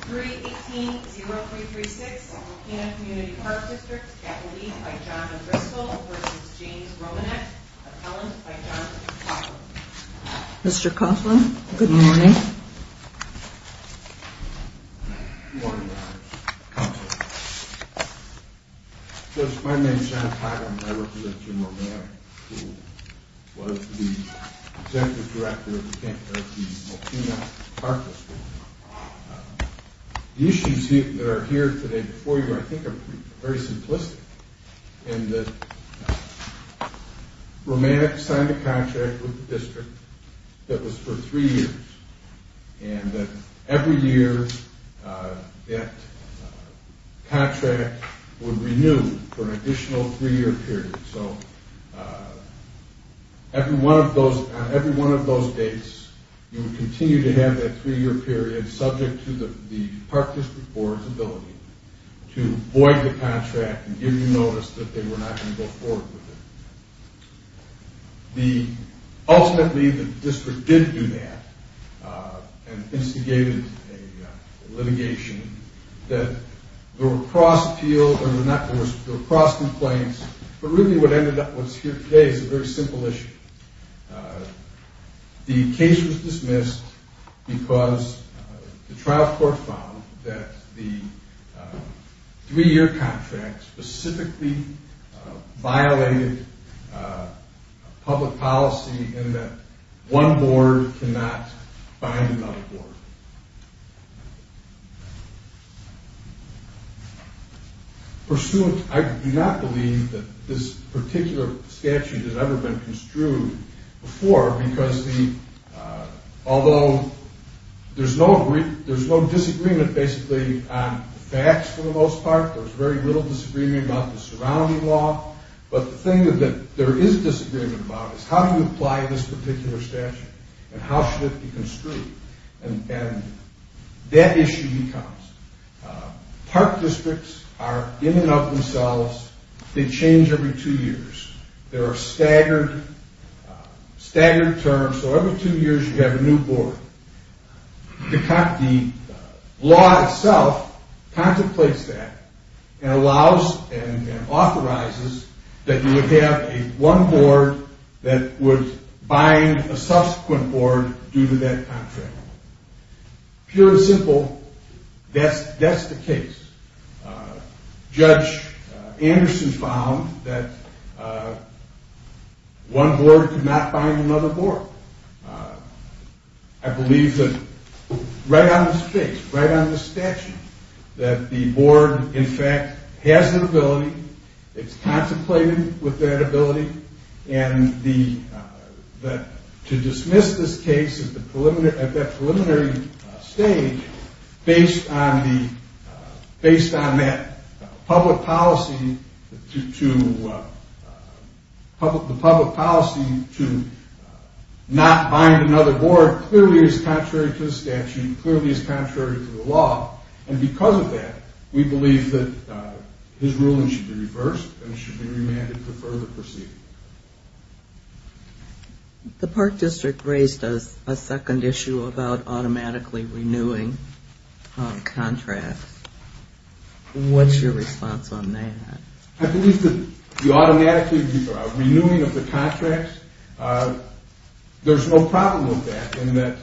3-18-0336 Mokena Community Park District Capitol D by Jonathan Bristol v. James Romanek Appellant by Jonathan Coughlin Mr. Coughlin, good morning Good morning, Congresswoman My name is John Coughlin, I represent Jim Romanek who was the Executive Director of the Mokena Park District The issues that are here today before you I think are very simplistic in that Romanek signed a contract with the district that was for three years and that every year that contract would renew for an additional three year period so on every one of those dates you would continue to have that three year period subject to the Park District Board's ability to void the contract and give you notice that they were not going to go forward with it Ultimately the district did do that and instigated a litigation that there were cross-complaints, but really what ended up here today is a very simple issue The case was dismissed because the trial court found that the three year contract specifically violated public policy in that one board cannot find another board Pursuant, I do not believe that this particular statute has ever been construed before because although there's no disagreement basically on facts for the most part there's very little disagreement about the surrounding law but the thing that there is disagreement about is how do you apply this particular statute and how should it be construed and that issue becomes Park Districts are in and of themselves, they change every two years There are staggered terms, so every two years you have a new board The law itself contemplates that and allows and authorizes that you would have one board that would bind a subsequent board due to that contract Pure and simple, that's the case Judge Anderson found that one board could not bind another board I believe that right on this case, right on this statute that the board in fact has an ability, it's contemplated with that ability and to dismiss this case at that preliminary stage based on that public policy to not bind another board The board clearly is contrary to the statute, clearly is contrary to the law and because of that we believe that his ruling should be reversed and should be remanded to further proceed The Park District raised a second issue about automatically renewing contracts What's your response on that? I believe that the automatically renewing of the contracts there's no problem with that in that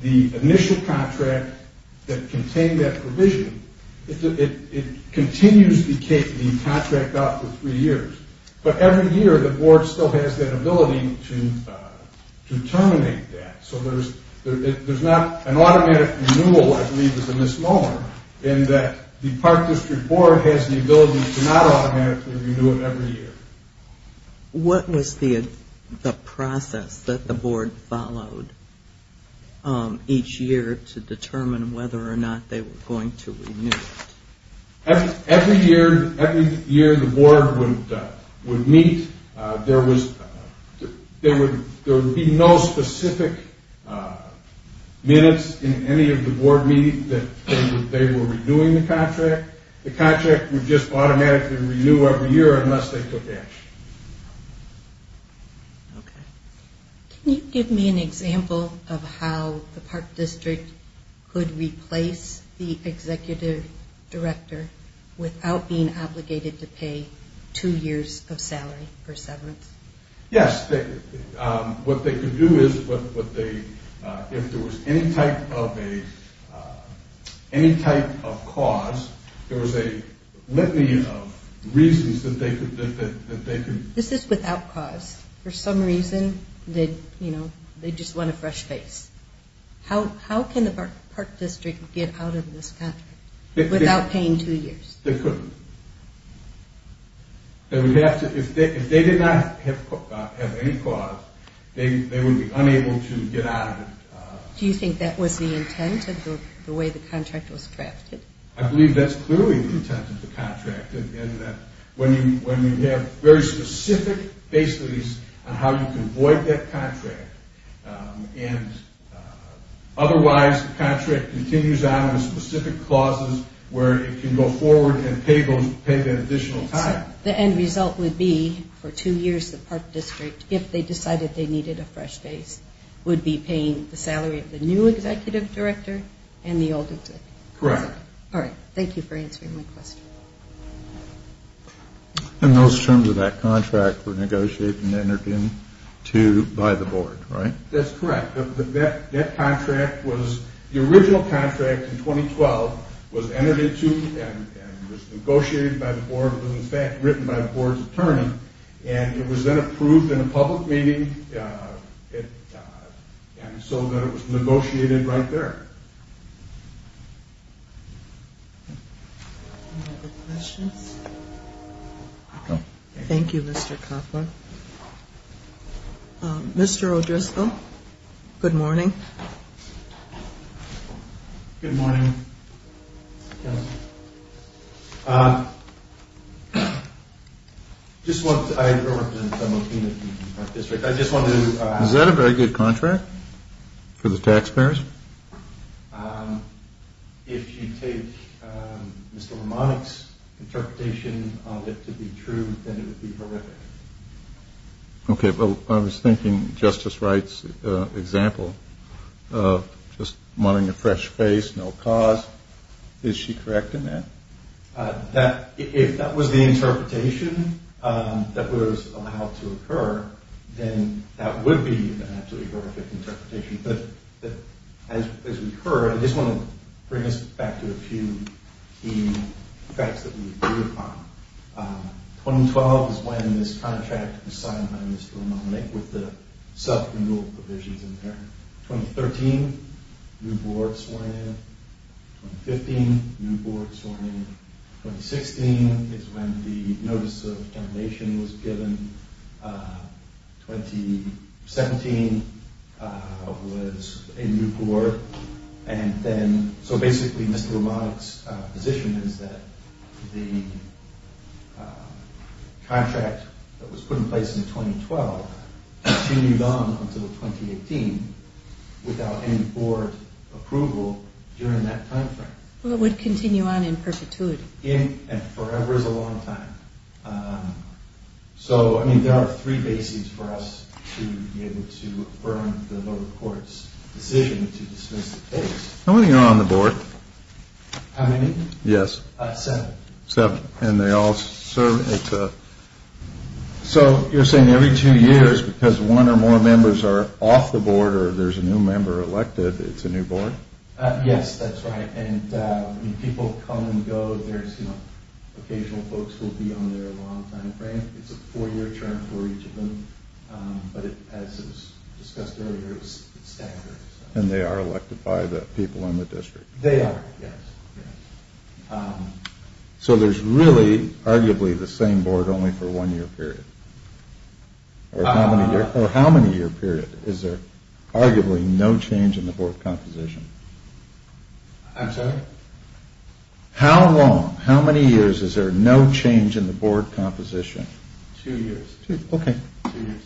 the initial contract that contained that provision it continues to take the contract out for three years but every year the board still has that ability to terminate that so there's not an automatic renewal I believe is a misnomer in that the Park District Board has the ability to not automatically renew it every year What was the process that the board followed each year to determine whether or not they were going to renew it? Every year the board would meet there would be no specific minutes in any of the board meetings that they were renewing the contract The contract would just automatically renew every year unless they took action Can you give me an example of how the Park District could replace the Executive Director without being obligated to pay two years of salary for severance? Yes, what they could do is if there was any type of cause there was a litany of reasons that they could This is without cause, for some reason they just want a fresh face How can the Park District get out of this contract without paying two years? They couldn't. If they did not have any cause, they would be unable to get out of it Do you think that was the intent of the way the contract was drafted? I believe that's clearly the intent of the contract when you have very specific facilities on how you can avoid that contract Otherwise the contract continues on with specific clauses where it can go forward and pay the additional time So the end result would be for two years the Park District if they decided they needed a fresh face would be paying the salary of the new Executive Director and the old Executive Director? Correct Thank you for answering my question And those terms of that contract were negotiated and entered into by the board, right? That's correct. That contract was the original contract in 2012 was entered into and was negotiated by the board was in fact written by the board's attorney and it was then approved in a public meeting and so then it was negotiated right there Any other questions? No Thank you, Mr. Koppel Mr. O'Driscoll, good morning Good morning I just want to... Is that a very good contract for the taxpayers? If you take Mr. Lomonick's interpretation of it to be true then it would be horrific Okay, but I was thinking Justice Wright's example of just wanting a fresh face, no cause Is she correct in that? If that was the interpretation that was allowed to occur then that would be an absolutely horrific interpretation but as we've heard, I just want to bring us back to a few key facts that we agree upon 2012 is when this contract was signed by Mr. Lomonick with the sub-renewal provisions in there 2013, new board sworn in 2015, new board sworn in 2016 is when the notice of termination was given 2017 was a new board and then, so basically Mr. Lomonick's position is that the contract that was put in place in 2012 continued on until 2018 without any board approval during that time frame Well it would continue on in perpetuity In and forever is a long time So there are three bases for us to be able to affirm the lower court's decision to dismiss the case How many are on the board? How many? Yes Seven Seven, and they all serve So you're saying every two years, because one or more members are off the board or there's a new member elected, it's a new board? Yes, that's right People come and go, there's occasional folks who will be on there a long time frame It's a four year term for each of them But as was discussed earlier, it's standard And they are elected by the people in the district? They are, yes So there's really, arguably, the same board only for one year period? Or how many year period? Is there arguably no change in the board composition? I'm sorry? How long, how many years is there no change in the board composition? Two years Okay Two years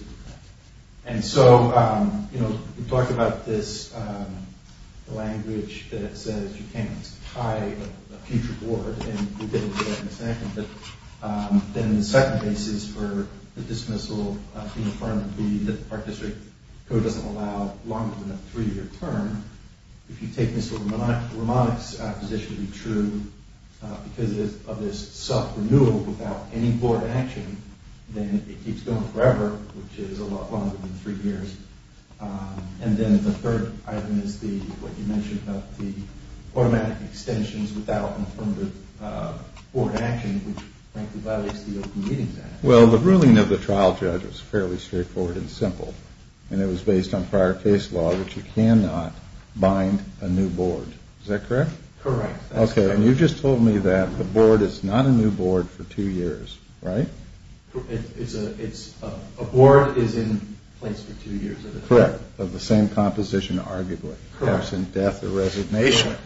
And so, you know, we talked about this language that says you can't tie a future board And we didn't do that in the second Then the second case is for the dismissal of the affirmative Our district code doesn't allow longer than a three year term If you take Mr. Romanek's position to be true Because of this sub-renewal without any board action Then it keeps going forever, which is a lot longer than three years And then the third item is what you mentioned about the automatic extensions Without affirmative board action, which frankly violates the Open Meetings Act Well, the ruling of the trial judge was fairly straightforward and simple And it was based on prior case law, which you cannot bind a new board Is that correct? Correct Okay, and you just told me that the board is not a new board for two years, right? A board is in place for two years Correct, of the same composition, arguably Perhaps in death or resignation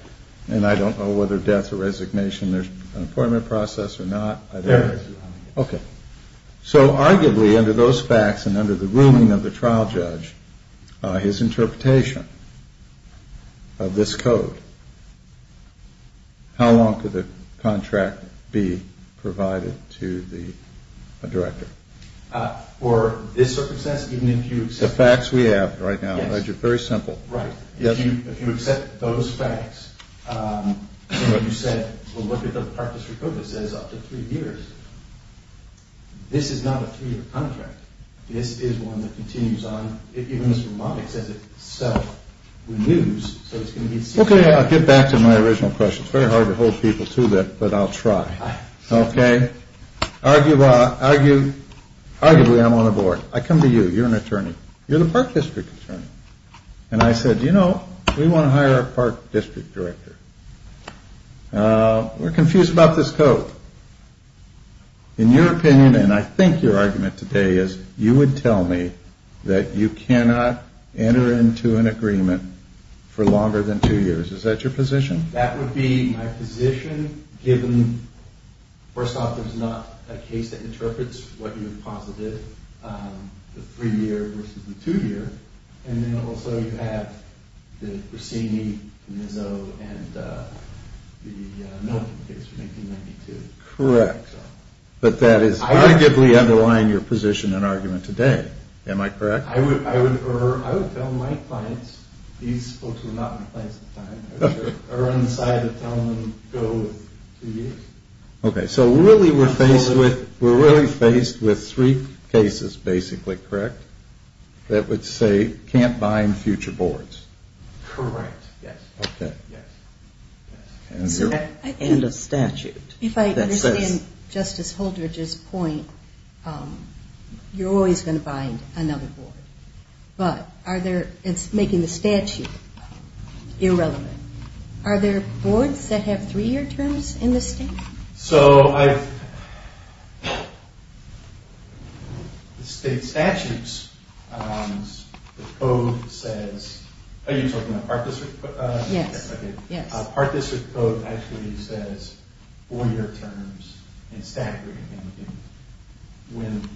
And I don't know whether death or resignation, there's an appointment process or not There is Okay, so arguably under those facts and under the ruling of the trial judge His interpretation of this code How long could the contract be provided to the director? For this circumstance, even if you accept The facts we have right now, very simple Right, if you accept those facts And you said, well, look at the Park District Code, it says up to three years This is not a three-year contract This is one that continues on, even as long as it self-renews Okay, I'll get back to my original question It's very hard to hold people to that, but I'll try Okay, arguably I'm on the board I come to you, you're an attorney You're the Park District Attorney And I said, you know, we want to hire a Park District Director We're confused about this code In your opinion, and I think your argument today is You would tell me that you cannot enter into an agreement for longer than two years Is that your position? That would be my position, given First off, there's not a case that interprets what you've posited The three-year versus the two-year And then also you have the Brissini, the Mizzou, and the Milton case from 1992 Correct, but that is arguably underlying your position and argument today Am I correct? I would tell my clients, these folks were not my clients at the time I would run the side of telling them to go with two years Okay, so really we're faced with three cases, basically, correct? That would say, can't bind future boards Correct, yes And a statute If I understand Justice Holdridge's point You're always going to bind another board But it's making the statute irrelevant Are there boards that have three-year terms in the state? So, the state statutes, the code says Are you talking about part district? Yes Part district code actually says four-year terms in statute When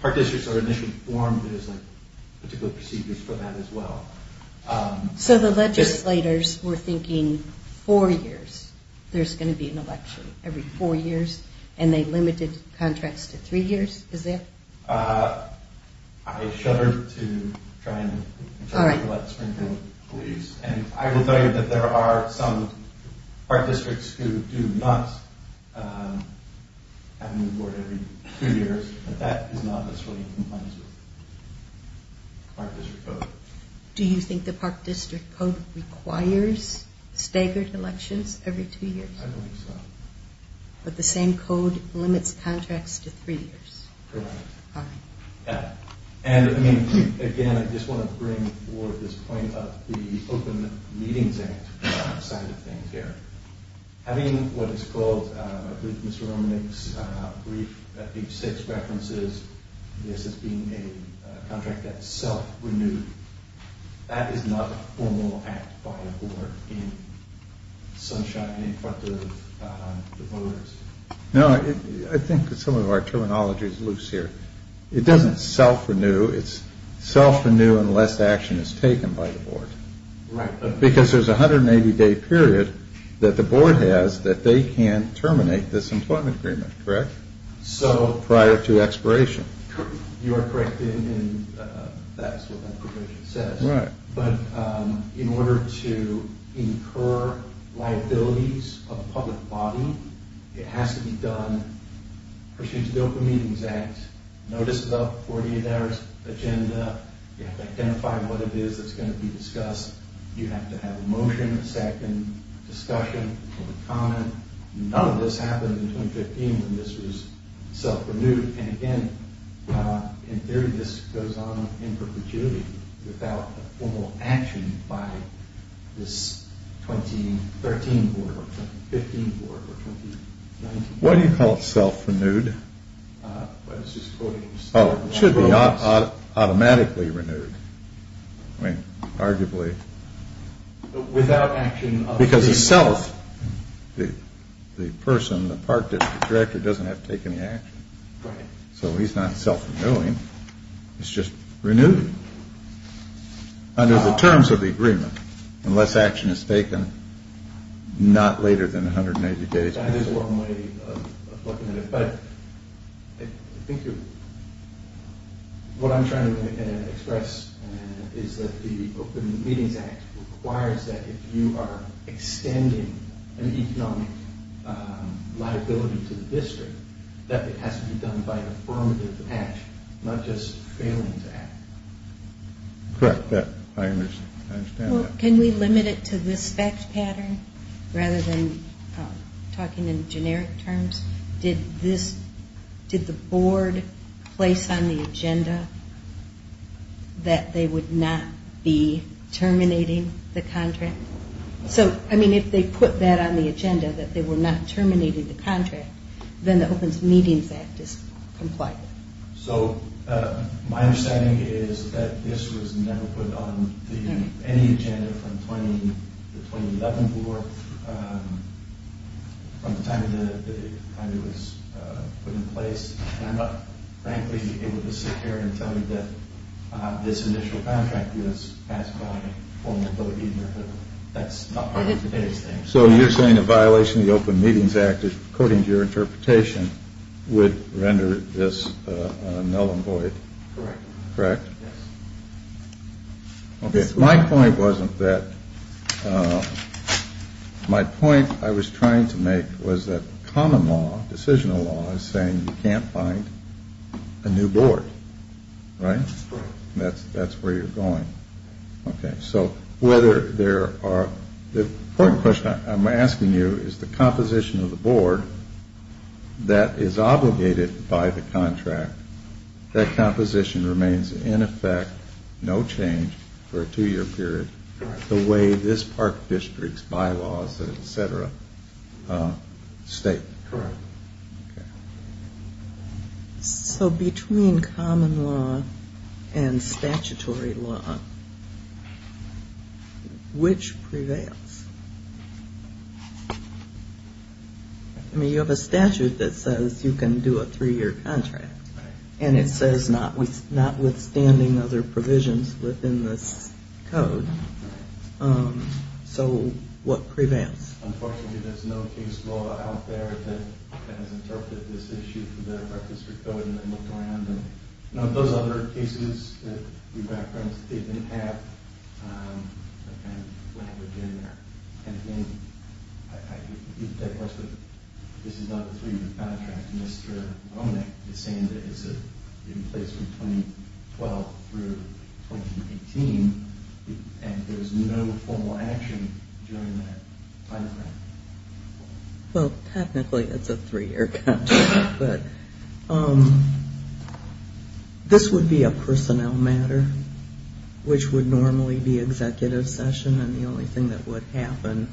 part districts are initially formed, there's particular procedures for that as well So the legislators were thinking four years There's going to be an election every four years And they limited contracts to three years, is that? I shudder to try and infer what Springfield believes And I will tell you that there are some part districts who do not have a new board every two years But that is not necessarily in compliance with part district code Do you think the part district code requires staggered elections every two years? I don't think so But the same code limits contracts to three years? Correct Alright And again, I just want to bring forth this point of the Open Meetings Act side of things here Having what is called, I believe Mr. Romanek's brief, page six references This as being a contract that's self-renewed That is not a formal act by a board in sunshine in front of the voters No, I think some of our terminology is loose here It doesn't self-renew, it's self-renew unless action is taken by the board Right Because there's a 180-day period that the board has that they can terminate this employment agreement, correct? Prior to expiration You are correct in that's what that provision says Right But in order to incur liabilities of the public body, it has to be done Pursuant to the Open Meetings Act, notice of the 48-hour agenda You have to identify what it is that's going to be discussed You have to have a motion, a second, discussion, public comment None of this happened in 2015 when this was self-renewed And again, in theory this goes on in perpetuity without formal action by this 2013 board or 2015 board or 2019 board Why do you call it self-renewed? I was just quoting Mr. Romanek's Oh, it should be automatically renewed I mean, arguably Without action of the board The person, the director doesn't have to take any action Right So he's not self-renewing, it's just renewed Under the terms of the agreement, unless action is taken not later than 180 days There's a long way of looking at it But I think what I'm trying to express is that the Open Meetings Act requires that if you are extending an economic liability to the district That it has to be done by affirmative action, not just failing to act Correct, I understand that Can we limit it to this fact pattern? Rather than talking in generic terms Did the board place on the agenda that they would not be terminating the contract? So, I mean, if they put that on the agenda, that they were not terminating the contract Then the Open Meetings Act is compliant So, my understanding is that this was never put on any agenda from the 2011 board From the time it was put in place And I'm not, frankly, able to sit here and tell you that this initial contract was passed by former board leader That's not part of today's thing So, you're saying a violation of the Open Meetings Act, according to your interpretation, would render this null and void? Correct My point wasn't that My point I was trying to make was that common law, decisional law, is saying you can't find a new board Right? That's where you're going Okay, so whether there are The important question I'm asking you is the composition of the board that is obligated by the contract That composition remains in effect, no change, for a two year period The way this park district's bylaws, et cetera, state Correct So, between common law and statutory law, which prevails? I mean, you have a statute that says you can do a three year contract Right And it says notwithstanding other provisions within this code Right So, what prevails? Unfortunately, there's no case law out there that has interpreted this issue for the park district code and looked around Those other cases that we've referenced didn't have that kind of language in there And again, you can take a question This is not a three year contract It's saying that it's in place from 2012 through 2018 And there's no formal action during that time frame Well, technically it's a three year contract But this would be a personnel matter Which would normally be executive session And the only thing that would happen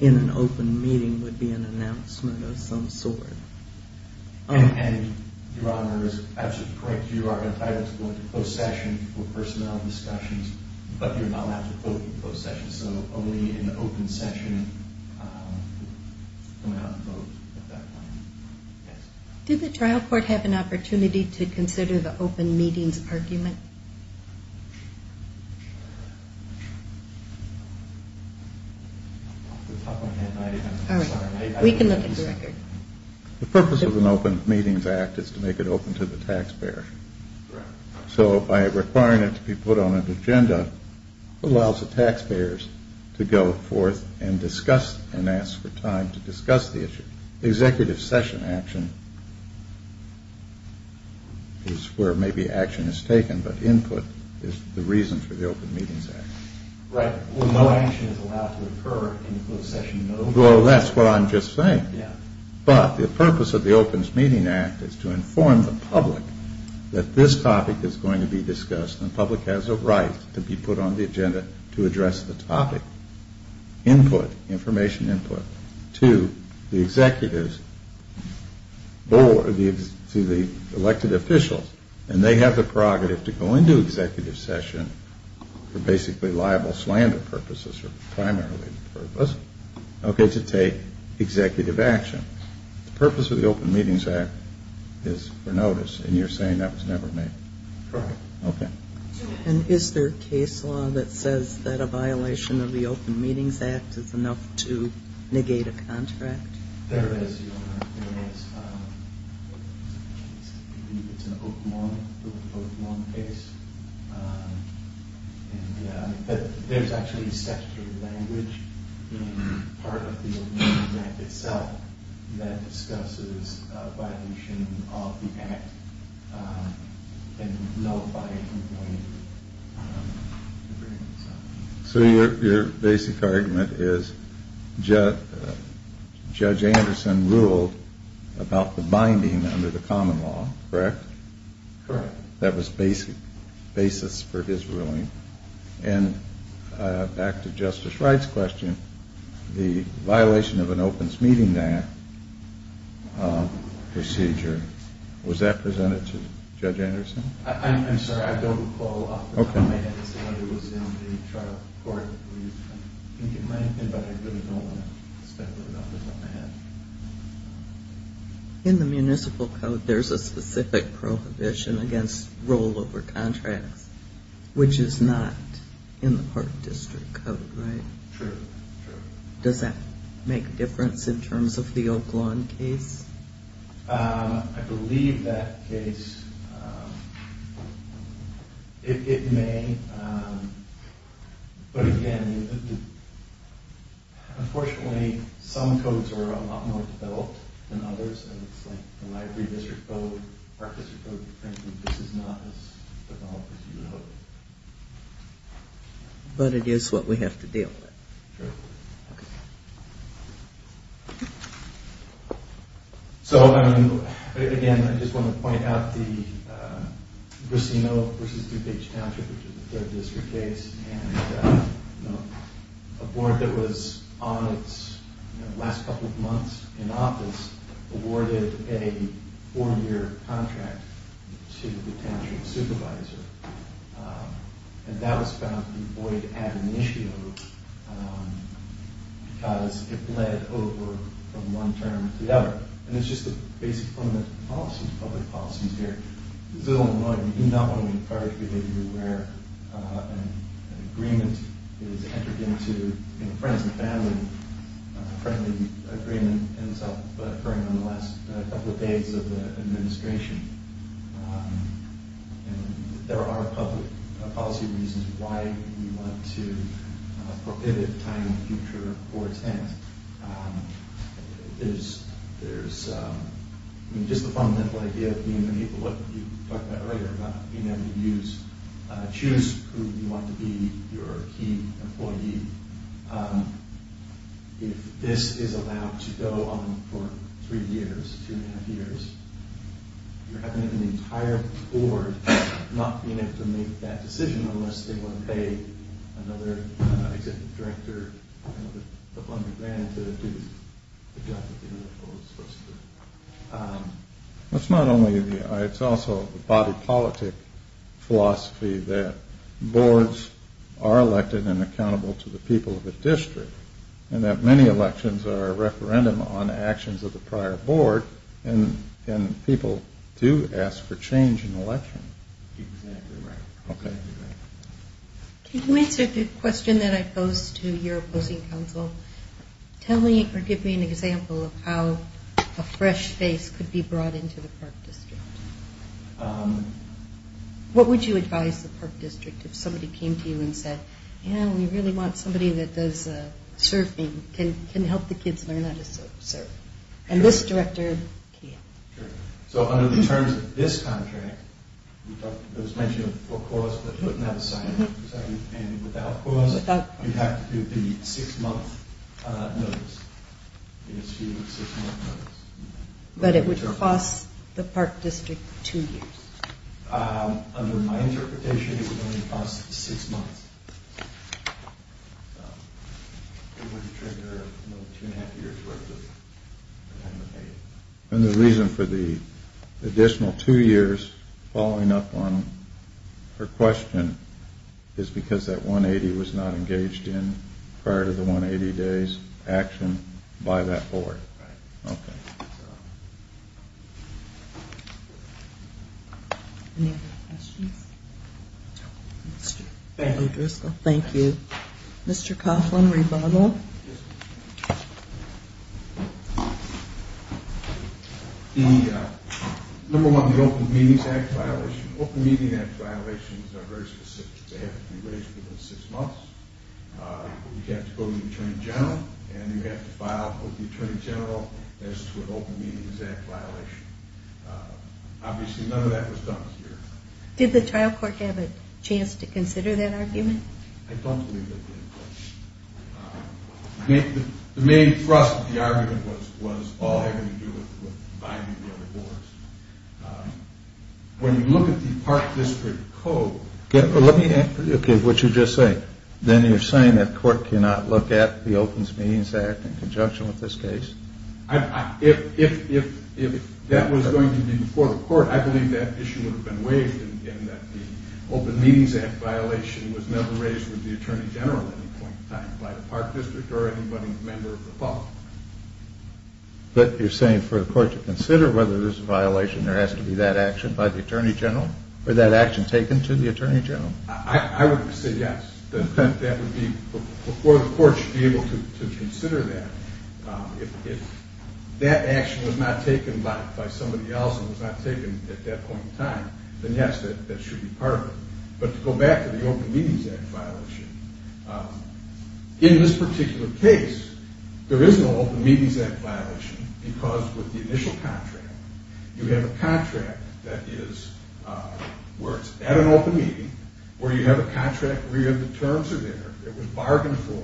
in an open meeting would be an announcement of some sort And, Your Honor, it's absolutely correct You are entitled to go into closed session for personnel discussions But you're not allowed to go into closed session So, only in the open session Do the trial court have an opportunity to consider the open meetings argument? All right, we can look at the record The purpose of an open meetings act is to make it open to the taxpayer Correct So, by requiring it to be put on an agenda Allows the taxpayers to go forth and discuss and ask for time to discuss the issue Executive session action is where maybe action is taken But input is the reason for the open meetings act Right, no action is allowed to occur in a closed session Well, that's what I'm just saying But the purpose of the open meetings act is to inform the public That this topic is going to be discussed And the public has a right to be put on the agenda to address the topic Input, information input to the executives Or to the elected officials And they have the prerogative to go into executive session For basically liable slander purposes Or primarily the purpose Okay, to take executive action The purpose of the open meetings act is for notice And you're saying that was never made? Correct Okay And is there a case law that says that a violation of the open meetings act Is enough to negate a contract? There is I believe it's an Oakmont case There's actually a statutory language in part of the open meetings act itself That discusses a violation of the act And nullifying the agreement So your basic argument is Judge Anderson ruled about the binding under the common law, correct? Correct That was the basis for his ruling And back to Justice Wright's question The violation of an open meetings act Procedure Was that presented to Judge Anderson? I'm sorry, I don't recall off the top of my head It was in the trial report I think it might have been, but I don't want to speculate off the top of my head In the municipal code, there's a specific prohibition against rollover contracts Which is not in the park district code, right? True, true Does that make a difference in terms of the Oaklawn case? I believe that case It may But again Unfortunately, some codes are a lot more developed than others And it's like the library district code, park district code Frankly, this is not as developed as you would hope But it is what we have to deal with Sure So, again, I just want to point out the Grissino v. DuPage Township Which is a third district case And a board that was on its last couple of months in office Awarded a four year contract to the township supervisor And that was found to be void ad initio Because it bled over from one term to the other And it's just the basic fundamental policies, public policies here It's a little annoying You do not want to be in a private community where an agreement is entered into Friends and family A friendly agreement ends up occurring on the last couple of days of the administration And there are public policy reasons why we want to prohibit time in the future for intent There's just the fundamental idea of being able to, what you talked about earlier Being able to choose who you want to be your key employee If this is allowed to go on for three years, two and a half years You're having an entire board not being able to make that decision Unless they want to pay another executive director a hundred grand to do the job that they were supposed to do It's not only the, it's also the body politic philosophy That boards are elected and accountable to the people of the district And that many elections are a referendum on actions of the prior board And people do ask for change in elections Exactly right Okay Can you answer the question that I posed to your opposing counsel? Tell me or give me an example of how a fresh face could be brought into the park district What would you advise the park district if somebody came to you and said Yeah, we really want somebody that does surfing, can help the kids learn how to surf And this director can So under the terms of this contract, it was mentioned for cause but it doesn't have a sign And without cause you have to do the six month notice But it would cost the park district two years Under my interpretation it would only cost six months It wouldn't trigger two and a half years worth of payment And the reason for the additional two years following up on her question Is because that 180 was not engaged in prior to the 180 days action by that board Right Okay Any other questions? Thank you Mr. Coughlin, rebuttal Number one, the Open Meetings Act violation Open Meetings Act violations are very specific They have to be raised within six months You have to go to the Attorney General And you have to file with the Attorney General as to an Open Meetings Act violation Obviously none of that was done here Did the trial court have a chance to consider that argument? I don't believe they did The main thrust of the argument was all having to do with binding the other boards When you look at the park district code Okay, what you're just saying Then you're saying that court cannot look at the Open Meetings Act in conjunction with this case? If that was going to be before the court I believe that issue would have been waived And that the Open Meetings Act violation was never raised with the Attorney General at any point in time By the park district or any member of the public But you're saying for the court to consider whether there's a violation There has to be that action by the Attorney General? Or that action taken to the Attorney General? I would say yes Before the court should be able to consider that If that action was not taken by somebody else And was not taken at that point in time Then yes, that should be part of it But to go back to the Open Meetings Act violation In this particular case There is no Open Meetings Act violation Because with the initial contract You have a contract that is Where it's at an open meeting Where you have a contract where you have the terms are there It was bargained for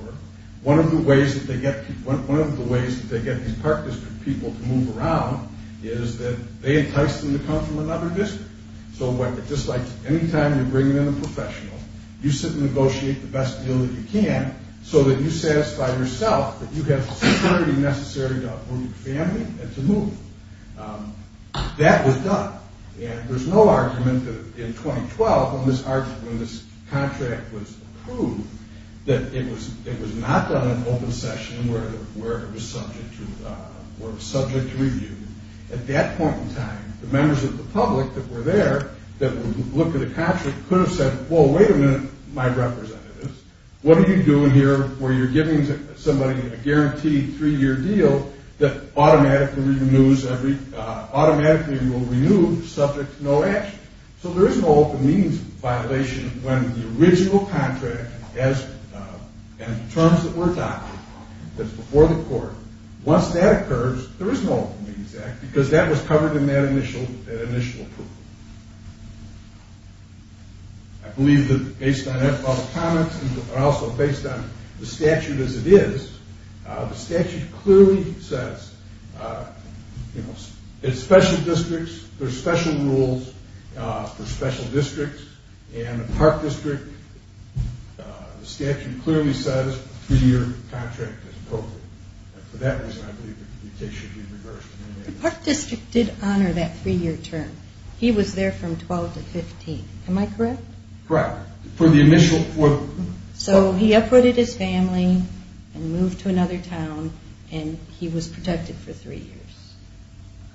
One of the ways that they get these park district people to move around Is that they entice them to come from another district So just like any time you bring in a professional You sit and negotiate the best deal that you can So that you satisfy yourself That you have the security necessary to uproot the family and to move That was done And there's no argument that in 2012 When this contract was approved That it was not done in an open session Where it was subject to review At that point in time The members of the public that were there That looked at the contract Could have said, wait a minute my representatives What are you doing here Where you're giving somebody a guaranteed three year deal That automatically will renew subject to no action So there is no open meetings violation When the original contract And the terms that were adopted That's before the court Once that occurs There is no open meetings act Because that was covered in that initial approval I believe that based on all the comments And also based on the statute as it is The statute clearly says It's special districts There's special rules for special districts And the park district The statute clearly says Three year contract is appropriate And for that reason I believe That it should be reversed The park district did honor that three year term He was there from 12 to 15 Am I correct? Correct For the initial So he uprooted his family And moved to another town And he was protected for three years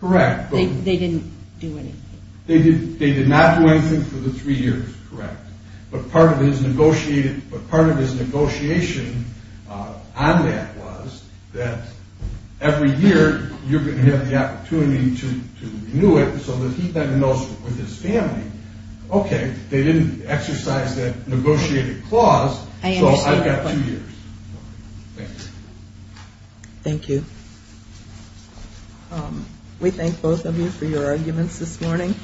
Correct They didn't do anything They did not do anything for the three years Correct But part of his negotiation On that was That every year You're going to have the opportunity to renew it So that he then knows with his family Okay They didn't exercise that negotiated clause So I've got two years Thank you Thank you We thank both of you for your arguments this morning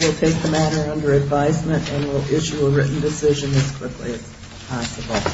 We'll take the matter under advisement And we'll issue a written decision as quickly as possible